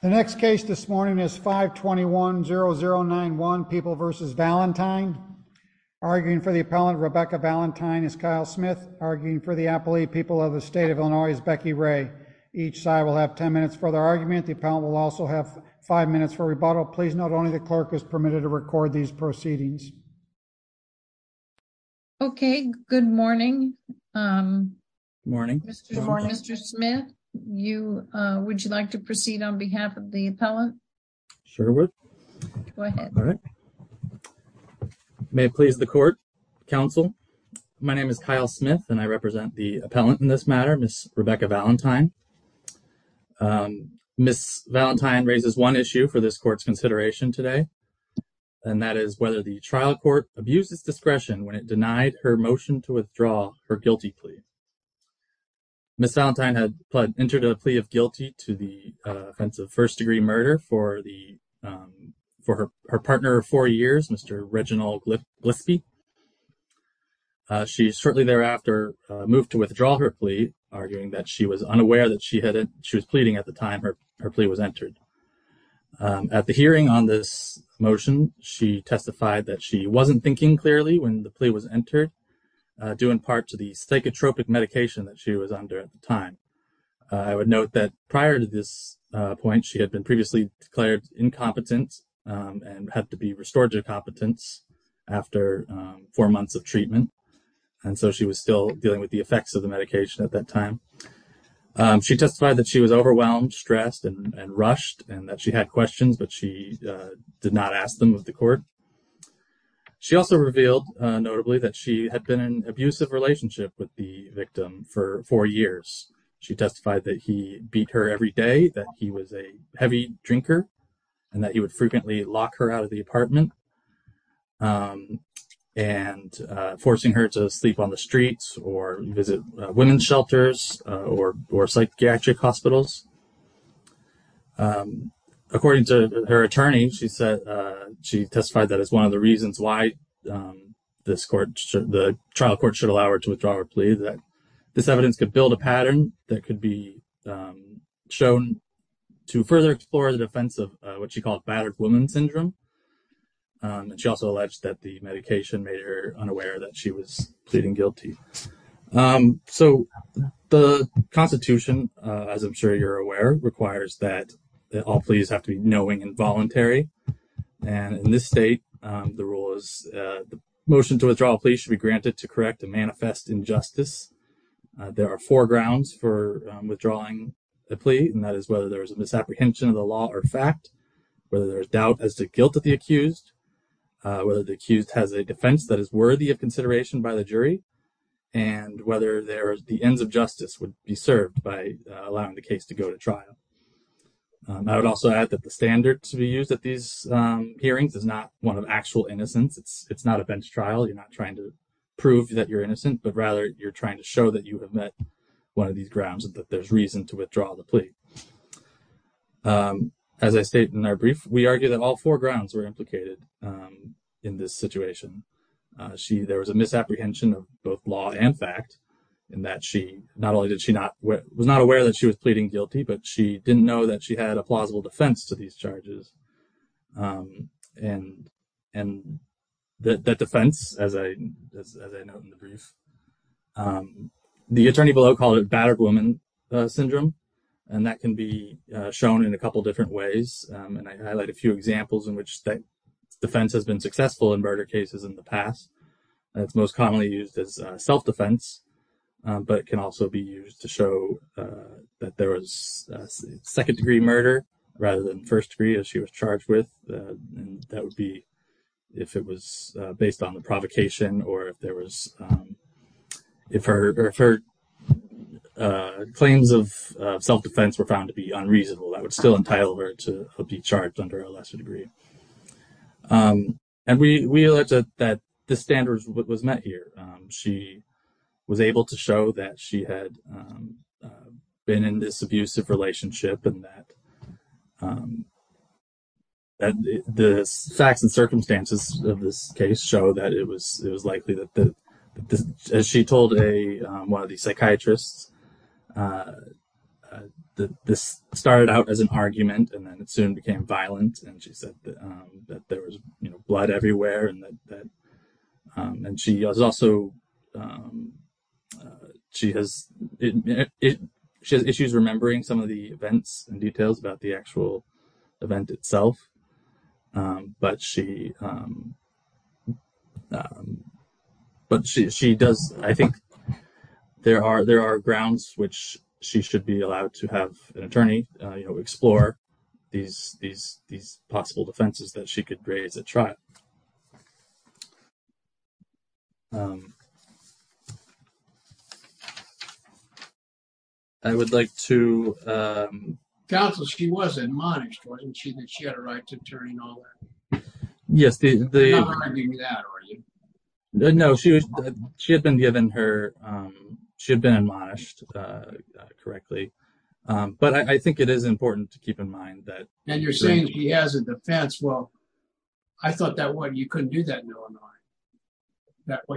The next case this morning is 521-0091, People v. Valentine. Arguing for the appellant, Rebecca Valentine, is Kyle Smith. Arguing for the appellee, People of the State of Illinois, is Becky Ray. Each side will have ten minutes for their argument. The appellant will also have five minutes for rebuttal. Please note only the clerk is permitted to record these proceedings. Okay, good morning. Good morning. Mr. Smith, would you like to proceed on behalf of the appellant? Sure would. Go ahead. May it please the court, counsel. My name is Kyle Smith, and I represent the appellant in this matter, Ms. Rebecca Valentine. Ms. Valentine raises one issue for this court's consideration today, and that is whether the trial court abused its discretion when it denied her motion to withdraw her guilty plea. Ms. Valentine had entered a plea of guilty to the offense of first-degree murder for her partner of four years, Mr. Reginald Glispie. She shortly thereafter moved to withdraw her plea, arguing that she was unaware that she was pleading at the time her plea was entered. At the hearing on this motion, she testified that she wasn't thinking clearly when the plea was entered, due in part to the psychotropic medication that she was under at the time. I would note that prior to this point, she had been previously declared incompetent and had to be restored to competence after four months of treatment, and so she was still dealing with the effects of the medication at that time. She testified that she was overwhelmed, stressed, and rushed, and that she had questions, but she did not ask them with the court. She also revealed, notably, that she had been in an abusive relationship with the victim for four years. She testified that he beat her every day, that he was a heavy drinker, and that he would frequently lock her out of the apartment, and forcing her to sleep on the streets or visit women's shelters or psychiatric hospitals. According to her attorney, she testified that it's one of the reasons why the trial court should allow her to withdraw her plea, that this evidence could build a pattern that could be shown to further explore the defense of what she called battered woman syndrome. She also alleged that the medication made her unaware that she was pleading guilty. So the Constitution, as I'm sure you're aware, requires that all pleas have to be knowing and voluntary, and in this state, the rule is the motion to withdraw a plea should be granted to correct a manifest injustice. There are four grounds for withdrawing a plea, and that is whether there is a misapprehension of the law or fact, whether there is doubt as to guilt of the accused, whether the accused has a defense that is worthy of consideration by the jury, and whether the ends of justice would be served by allowing the case to go to trial. I would also add that the standard to be used at these hearings is not one of actual innocence. It's not a bench trial. You're not trying to prove that you're innocent, but rather you're trying to show that you have met one of these grounds and that there's reason to withdraw the plea. As I state in our brief, we argue that all four grounds were implicated in this situation. There was a misapprehension of both law and fact, in that she not only was not aware that she was pleading guilty, but she didn't know that she had a plausible defense to these charges. And that defense, as I note in the brief, the attorney below called it battered woman syndrome, and that can be shown in a couple different ways. And I highlight a few examples in which that defense has been successful in murder cases in the past. It's most commonly used as self-defense, but it can also be used to show that there was second degree murder rather than first degree as she was charged with. That would be if it was based on the provocation or if her claims of self-defense were found to be unreasonable, that would still entitle her to be charged under a lesser degree. And we allege that the standards was met here. She was able to show that she had been in this abusive relationship and that the facts and circumstances of this case show that it was likely that, as she told one of the psychiatrists, that this started out as an argument and then it soon became violent. And she said that there was blood everywhere. And she has issues remembering some of the events and details about the actual event itself. But she does. I think there are grounds which she should be allowed to have an attorney explore these possible defenses that she could raise at trial. I would like to... Counsel, she was admonished, wasn't she? That she had a right to an attorney and all that. You're not reminding me of that, are you? No, she had been given her... She had been admonished correctly. But I think it is important to keep in mind that... And you're saying she has a defense. Well, I thought you couldn't do that in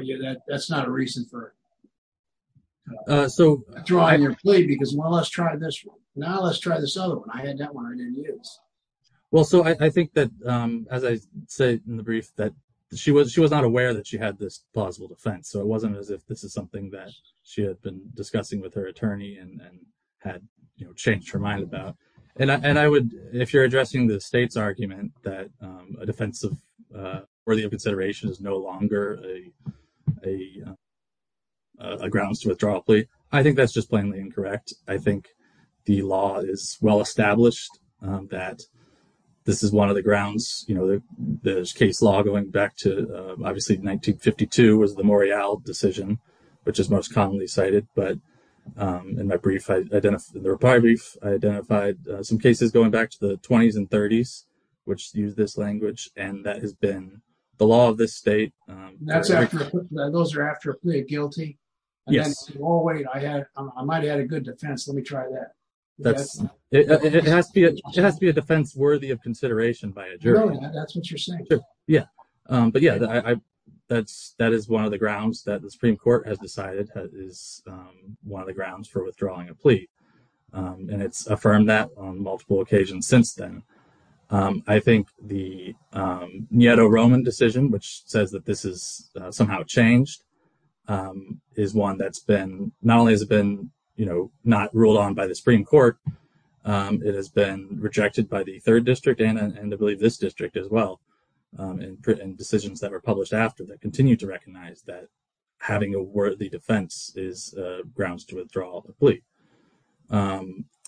Illinois. That's not a reason for throwing your plate because, well, let's try this one. Now let's try this other one. I had that one I didn't use. Well, so I think that, as I said in the brief, that she was not aware that she had this plausible defense. So it wasn't as if this is something that she had been discussing with her attorney and had changed her mind about. And if you're addressing the state's argument that a defense worthy of consideration is no longer a grounds to withdraw a plea, I think that's just plainly incorrect. I think the law is well-established that this is one of the grounds. The case law going back to, obviously, 1952 was the Morial decision, which is most commonly cited. But in my brief, in the reply brief, I identified some cases going back to the 20s and 30s, which used this language, and that has been the law of this state. Those are after a plea of guilty? Yes. Oh, wait, I might have had a good defense. Let me try that. It has to be a defense worthy of consideration by a jury. Really? That's what you're saying? Yeah. But yeah, that is one of the grounds that the Supreme Court has decided is one of the grounds for withdrawing a plea. And it's affirmed that on multiple occasions since then. I think the Nieto-Roman decision, which says that this has somehow changed, is one that's been, not only has it been not ruled on by the Supreme Court, it has been rejected by the Third District and I believe this district as well, in decisions that were published after that continue to recognize that having a worthy defense is grounds to withdraw a plea.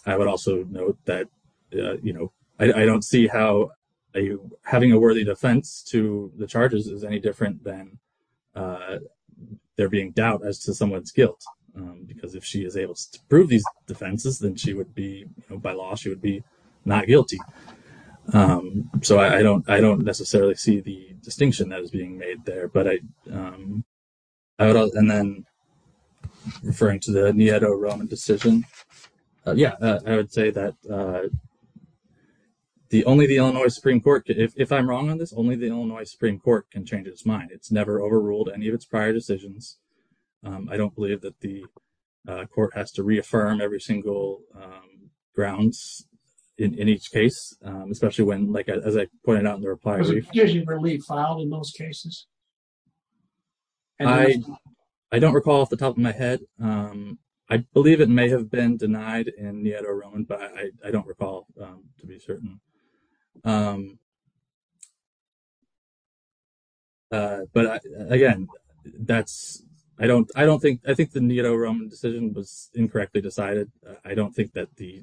I would also note that, you know, I don't see how having a worthy defense to the charges is any different than there being doubt as to someone's guilt. Because if she is able to prove these defenses, then she would be, by law, she would be not guilty. So I don't necessarily see the distinction that is being made there. And then referring to the Nieto-Roman decision, yeah, I would say that only the Illinois Supreme Court, if I'm wrong on this, only the Illinois Supreme Court can change its mind. It's never overruled any of its prior decisions. I don't believe that the court has to reaffirm every single grounds in each case, especially when, like, as I pointed out in the reply to you. Was the decision really filed in most cases? I don't recall off the top of my head. I believe it may have been denied in Nieto-Roman, but I don't recall to be certain. But again, that's, I don't think, I think the Nieto-Roman decision was incorrectly decided. I don't think that the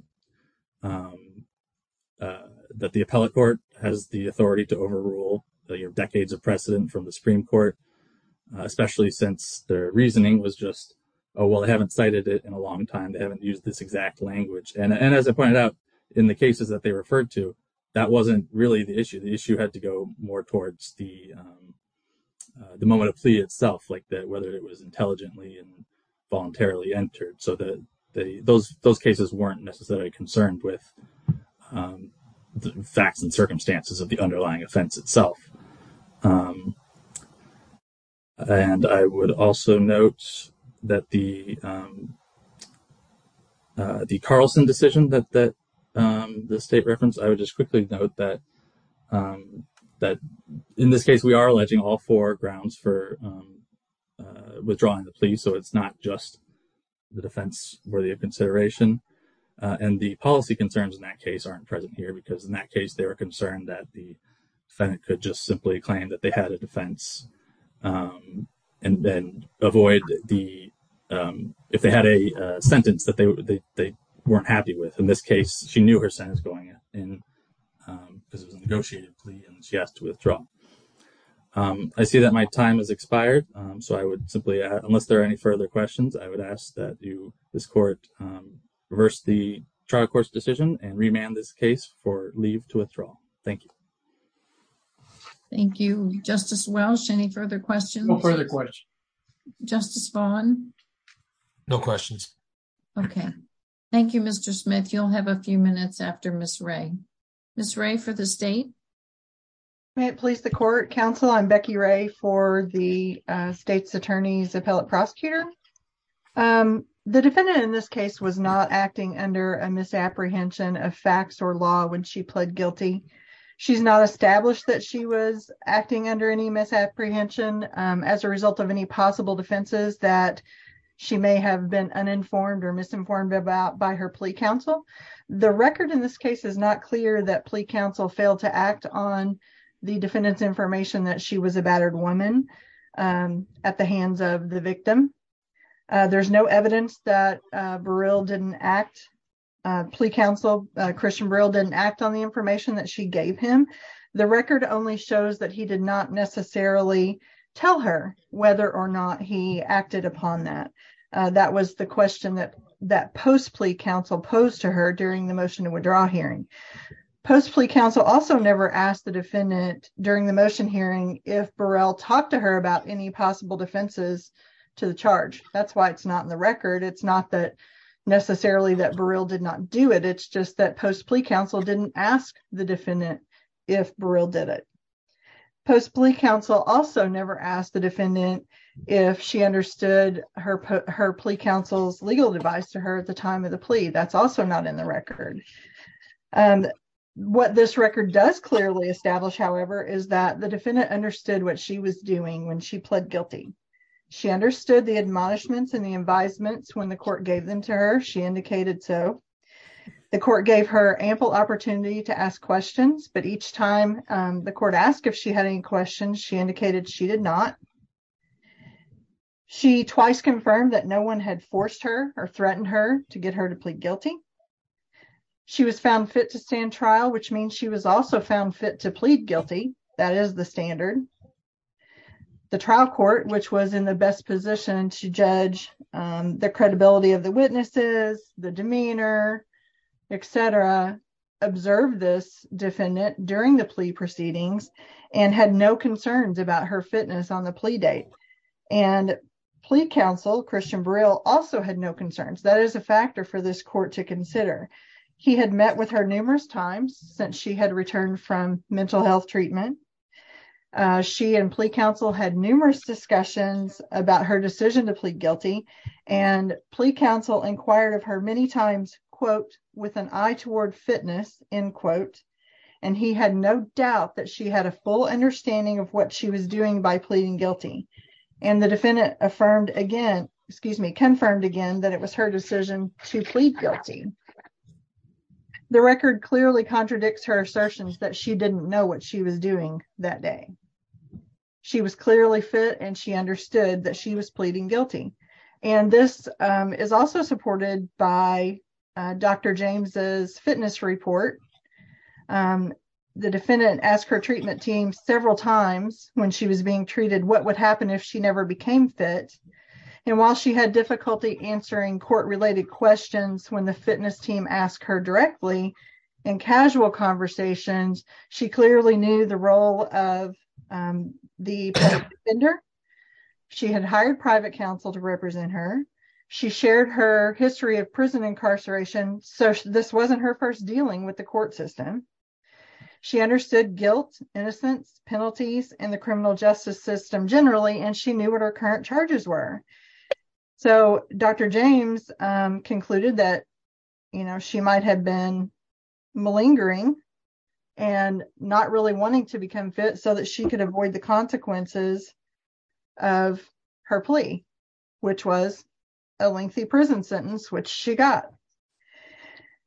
appellate court has the authority to overrule the decades of precedent from the Supreme Court, especially since their reasoning was just, oh, well, they haven't cited it in a long time. They haven't used this exact language. And as I pointed out in the cases that they referred to, that wasn't really the issue. The issue had to go more towards the moment of plea itself, like whether it was intelligently and voluntarily entered. So those cases weren't necessarily concerned with the facts and circumstances of the underlying offense itself. And I would also note that the Carlson decision that the state referenced, I would just quickly note that in this case, we are alleging all four grounds for withdrawing the plea. So it's not just the defense worthy of consideration. And the policy concerns in that case aren't present here because in that case, they were concerned that the defendant could just simply claim that they had a defense and then avoid the, if they had a sentence that they weren't happy with. In this case, she knew her sentence going in because it was a negotiated plea and she asked to withdraw. I see that my time has expired. So I would simply, unless there are any further questions, I would ask that you, this court, reverse the trial court's decision and remand this case for leave to withdraw. Thank you. Thank you. Justice Welch, any further questions? No further questions. Justice Vaughn? No questions. Okay. Thank you, Mr. Smith. You'll have a few minutes after Ms. Ray. Ms. Ray for the state. May it please the court, counsel. I'm Becky Ray for the state's attorney's appellate prosecutor. The defendant in this case was not acting under a misapprehension of facts or law when she pled guilty. She's not established that she was acting under any misapprehension as a result of any possible defenses that she may have been uninformed or misinformed about by her plea counsel. The record in this case is not clear that plea counsel failed to act on the defendant's information that she was a battered woman at the hands of the victim. There's no evidence that Burrell didn't act. Plea counsel Christian Burrell didn't act on the information that she gave him. The record only shows that he did not necessarily tell her whether or not he acted upon that. That was the question that that post plea counsel posed to her during the motion to withdraw hearing. Post plea counsel also never asked the defendant during the motion hearing if Burrell talked to her about any possible defenses to the charge. That's why it's not in the record. It's not that necessarily that Burrell did not do it. It's just that post plea counsel didn't ask the defendant if Burrell did it. Post plea counsel also never asked the defendant if she understood her plea counsel's legal device to her at the time of the plea. That's also not in the record. What this record does clearly establish, however, is that the defendant understood what she was doing when she pled guilty. She understood the admonishments and the advisements when the court gave them to her. She indicated so. The court gave her ample opportunity to ask questions, but each time the court asked if she had any questions, she indicated she did not. She twice confirmed that no one had forced her or threatened her to get her to plead guilty. She was found fit to stand trial, which means she was also found fit to plead guilty. That is the standard. The trial court, which was in the best position to judge the credibility of the witnesses, the demeanor, et cetera, observed this defendant during the plea proceedings and had no concerns about her fitness on the plea date and plea counsel. Christian Brill also had no concerns. That is a factor for this court to consider. He had met with her numerous times since she had returned from mental health treatment. She and plea counsel had numerous discussions about her decision to plead guilty and plea counsel inquired of her many times, quote, with an eye toward fitness in quote, and he had no doubt that she had a full understanding of what she was doing by pleading guilty. And the defendant affirmed again, excuse me, confirmed again that it was her decision to plead guilty. The record clearly contradicts her assertions that she didn't know what she was doing that day. She was clearly fit and she understood that she was pleading guilty. And this is also supported by Dr. James's fitness report. The defendant asked her treatment team several times when she was being treated, what would happen if she never became fit? And while she had difficulty answering court related questions, when the fitness team asked her directly in casual conversations, she clearly knew the role of the vendor. She had hired private counsel to represent her. She shared her history of prison incarceration. So this wasn't her first dealing with the court system. She understood guilt, innocence, penalties, and the criminal justice system generally. And she knew what her current charges were. So Dr. James concluded that, you know, she might have been malingering and not really wanting to become fit so that she could avoid the consequences of her plea, which was a lengthy prison sentence, which she got.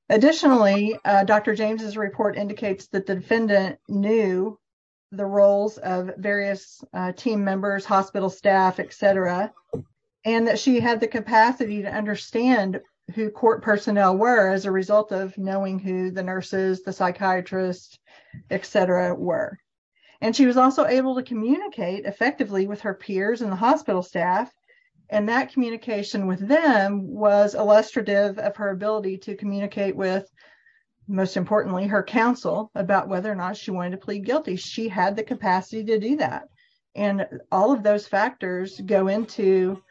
Additionally, Dr. James's report indicates that the defendant knew the roles of various team members, hospital staff, et cetera, and that she had the capacity to understand who court personnel were as a result of knowing who the nurses, the psychiatrists, et cetera, were. And she was also able to communicate effectively with her peers and the hospital staff. And that communication with them was illustrative of her ability to communicate with most importantly, her counsel about whether or not she wanted to plead guilty. She had the capacity to do that. And all of those factors go into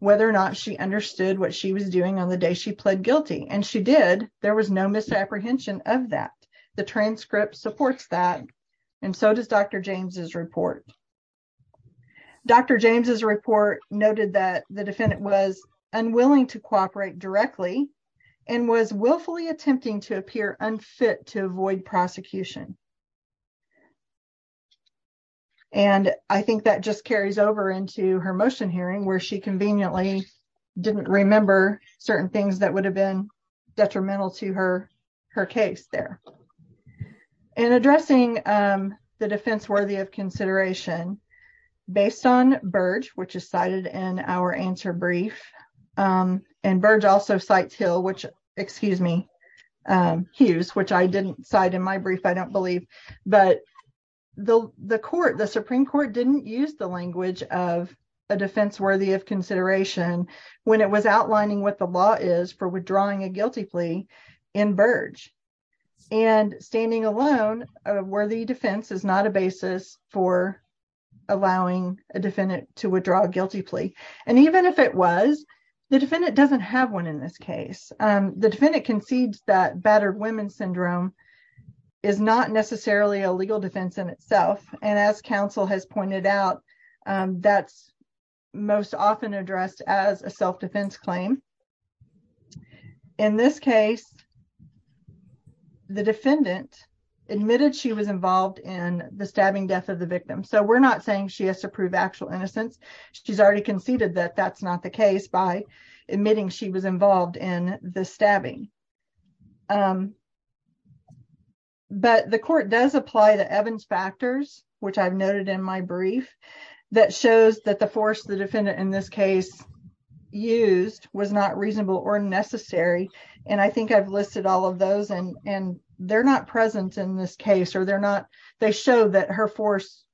whether or not she understood what she was doing on the day she pled guilty. And she did, there was no misapprehension of that. The transcript supports that. And so does Dr. James's report. Dr. James's report noted that the defendant was unwilling to cooperate directly and was willfully attempting to appear unfit to avoid prosecution. And I think that just carries over into her motion hearing where she said that she was unwilling to cooperate. And I think that's detrimental to her, her case there. And addressing the defense worthy of consideration based on Burge, which is cited in our answer brief. And Burge also sites Hill, which, excuse me, Hughes, which I didn't cite in my brief. I don't believe, but the, the court, the Supreme court didn't use the language of a defense worthy of consideration when it was outlining what the law is for withdrawing a guilty plea in Burge. And standing alone, a worthy defense is not a basis for allowing a defendant to withdraw a guilty plea. And even if it was the defendant doesn't have one in this case, the defendant concedes that battered women's syndrome is not necessarily a legal defense in itself. And as counsel has pointed out that's most often addressed as a self defense claim. In this case, the defendant admitted she was involved in the stabbing death of the victim. So we're not saying she has to prove actual innocence. She's already conceded that that's not the case by admitting she was involved in the stabbing. But the court does apply to Evans factors, which I've noted in my brief that shows that the force, the defendant in this case used was not reasonable or necessary. And I think I've listed all of those and, and they're not present in this case or they're not, they show that her force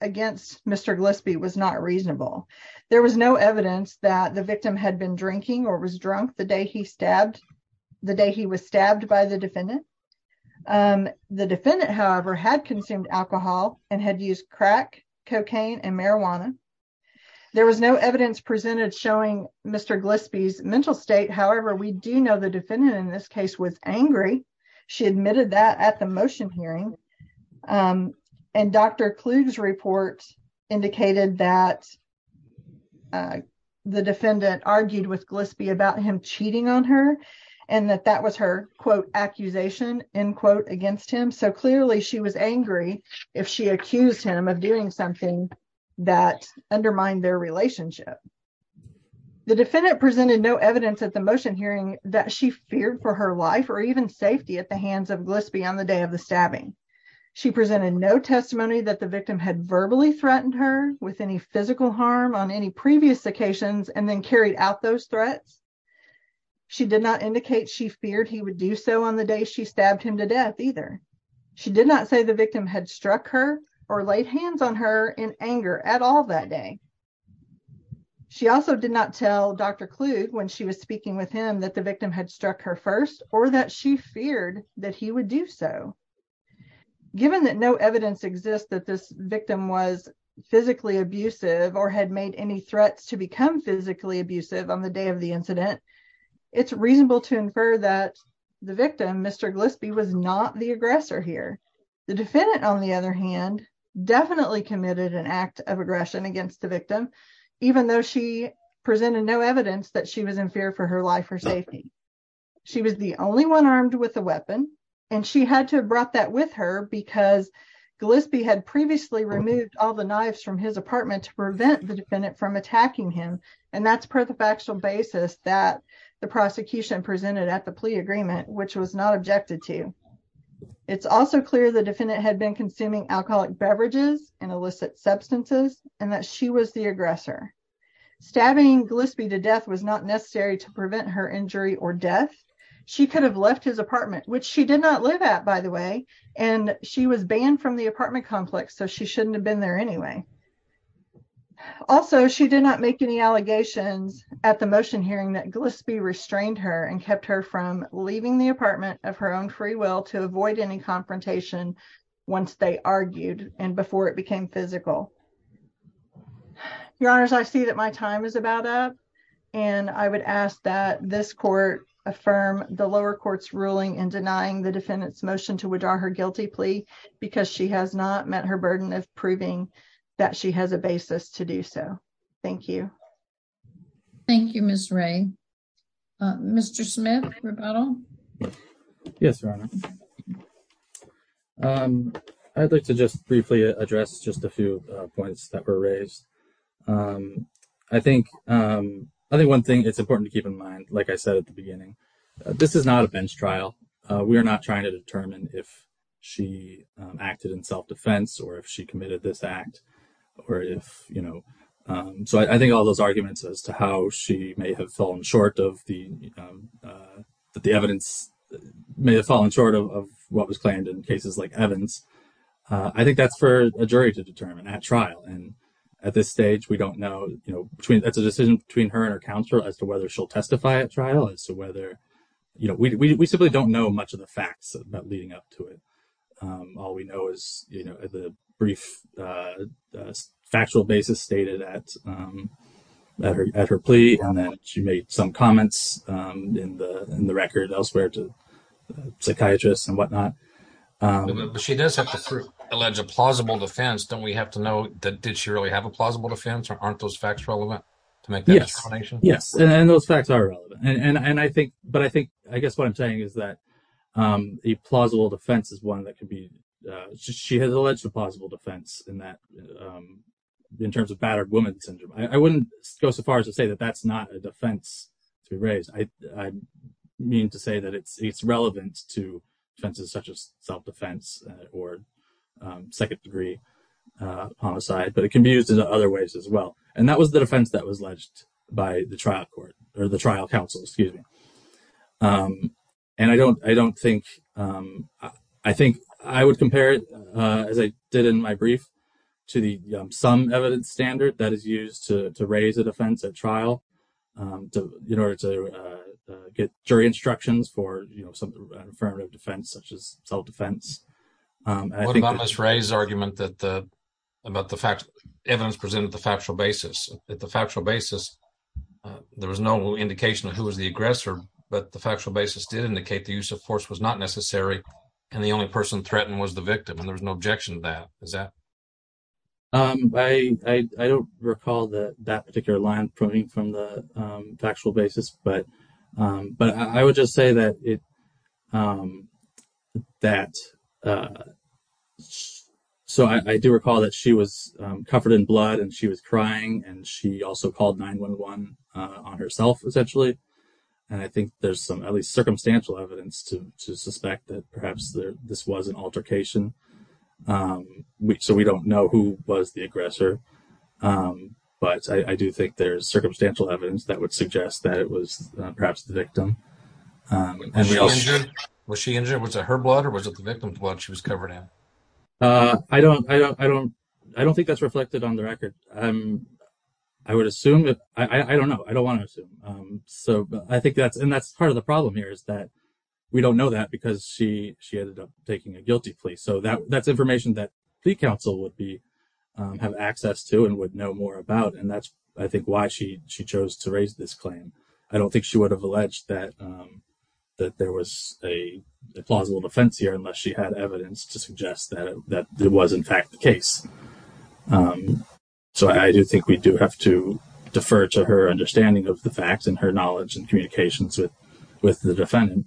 against Mr. Gillespie was not reasonable. There was no evidence that the victim had been drinking or was drunk the day he stabbed the day he was stabbed by the defendant. The defendant, however, had consumed alcohol and had used crack cocaine and marijuana. There was no evidence presented showing Mr. Gillespie's mental state. However, we do know the defendant in this case was angry. She admitted that at the motion hearing and Dr. Kluge's report indicated that the defendant argued with Gillespie about him and that that was her quote accusation in quote against him. So clearly she was angry. If she accused him of doing something that undermined their relationship, the defendant presented no evidence at the motion hearing that she feared for her life or even safety at the hands of Gillespie on the day of the stabbing. She presented no testimony that the victim had verbally threatened her with any physical harm on any previous occasions and then carried out those threats. She did not indicate she feared he would do so on the day she stabbed him to death either. She did not say the victim had struck her or laid hands on her in anger at all that day. She also did not tell Dr. Kluge when she was speaking with him that the victim had struck her first or that she feared that he would do so. Given that no evidence exists that this victim was physically abusive or had made any threats to become physically abusive on the day of the incident, it's reasonable to infer that the victim, Mr. Gillespie was not the aggressor here. The defendant on the other hand definitely committed an act of aggression against the victim, even though she presented no evidence that she was in fear for her life or safety. She was the only one armed with a weapon and she had to have brought that with her because Gillespie had previously removed all the knives from his apartment to prevent the defendant from attacking him. And that's per the factual basis that the prosecution presented at the plea agreement, which was not objected to. It's also clear the defendant had been consuming alcoholic beverages and illicit substances and that she was the aggressor. Stabbing Gillespie to death was not necessary to prevent her injury or death. She could have left his apartment, which she did not live at, by the way, and she was banned from the apartment complex. So she shouldn't have been there anyway. Also, she did not make any allegations at the motion hearing that Gillespie restrained her and kept her from leaving the apartment of her own free will to avoid any confrontation once they argued and before it became physical. Your honors, I see that my time is about up. And I would ask that this court affirm the lower court's ruling and denying the defendant's motion to withdraw her guilty plea because she has not met her proven that she has a basis to do so. Thank you. Thank you, Ms. Ray. Mr. Smith, rebuttal. Yes, your honor. I'd like to just briefly address just a few points that were raised. I think I think one thing it's important to keep in mind, like I said at the beginning, this is not a bench trial. We are not trying to determine if she acted in self defense or if she committed this act or if, you know, so I think all those arguments as to how she may have fallen short of the, but the evidence may have fallen short of what was claimed in cases like Evans. I think that's for a jury to determine at trial. And at this stage, we don't know, you know, between that's a decision between her and her counselor as to whether she'll testify at trial as to whether, you know, we simply don't know much of the facts about leading up to it. All we know is, you know, the brief factual basis stated at, at her plea and that she made some comments in the, in the record elsewhere to psychiatrists and whatnot. But she does have to prove alleged plausible defense. Don't we have to know that did she really have a plausible defense or aren't those facts relevant to make that explanation? Yes. And those facts are relevant. And I think, but I think, I guess what I'm saying is that a plausible defense is one that can be she has alleged a plausible defense in that in terms of battered woman syndrome. I wouldn't go so far as to say that that's not a defense to raise. I mean to say that it's, it's relevant to fences such as self-defense or second degree homicide, but it can be used in other ways as well. And that was the defense that was ledged by the trial court or the trial counsel, excuse me. And I don't, I don't think I think, I would compare it as I did in my brief to the some evidence standard that is used to raise a defense at trial in order to get jury instructions for, you know, some affirmative defense such as self-defense. What about Ms. Ray's argument that the, about the fact, evidence presented the factual basis at the factual basis. There was no indication of who was the aggressor, but the factual basis did indicate the use of force was not necessary. And the only person threatened was the victim and there was no objection to that. Is that, I don't recall that that particular line coming from the factual basis, but, but I would just say that it, that so I do recall that she was covered in blood and she was crying and she also called 911 on herself essentially. And I think there's some at least circumstantial evidence to, to suspect that perhaps there, this was an altercation. So we don't know who was the aggressor. But I do think there's circumstantial evidence that would suggest that it was perhaps the victim. Was she injured? Was it her blood or was it the victim's blood she was covered in? I don't, I don't, I don't, I don't think that's reflected on the record. I would assume that, I don't know. I don't want to assume. So I think that's, and that's part of the problem here is that we don't know that because she, she ended up taking a guilty plea. So that, that's information that the council would be have access to and would know more about. And that's, I think why she, she chose to raise this claim. I don't think she would have alleged that, that there was a plausible defense here unless she had evidence to suggest that it was in fact the case. So I do think we do have to defer to her understanding of the facts and her knowledge and communications with, with the defendant.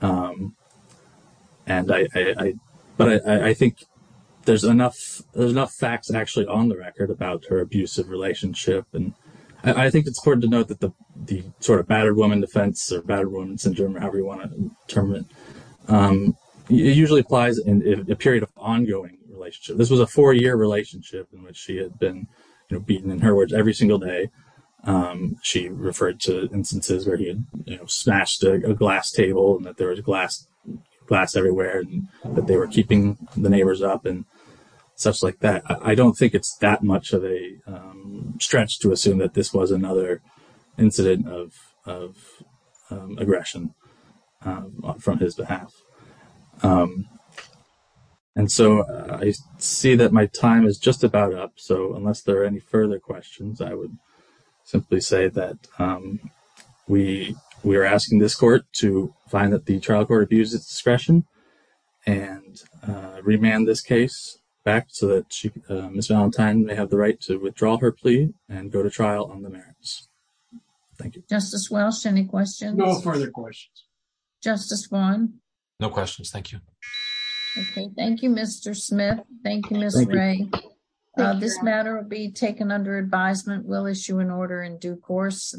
And I, I, I, but I, I, I think there's enough, there's enough facts actually on the record about her abusive relationship. And I think it's important to note that the, the sort of battered woman defense or battered woman syndrome, however you want to term it, it usually applies in a period of ongoing relationship. This was a four year relationship in which she had been beaten in her words every single day. She referred to instances where he had, you know, smashed a glass table and that there was glass glass everywhere and that they were keeping the neighbors up and such like that. I don't think it's that much of a stretch to assume that this was another incident of, of aggression from his behalf. And so I see that my time is just about up. So unless there are any further questions, I would simply say that we were asking this court to find that the trial court abused its discretion and remand this case back so that she, Ms. Valentine may have the right to withdraw her plea and go to trial on the merits. Thank you. Justice Welsh. Any questions? No further questions. Justice Vaughn. No questions. Thank you. Okay. Thank you, Mr. Smith. Thank you, Ms. Ray. This matter will be taken under advisement. We'll issue an order in due course.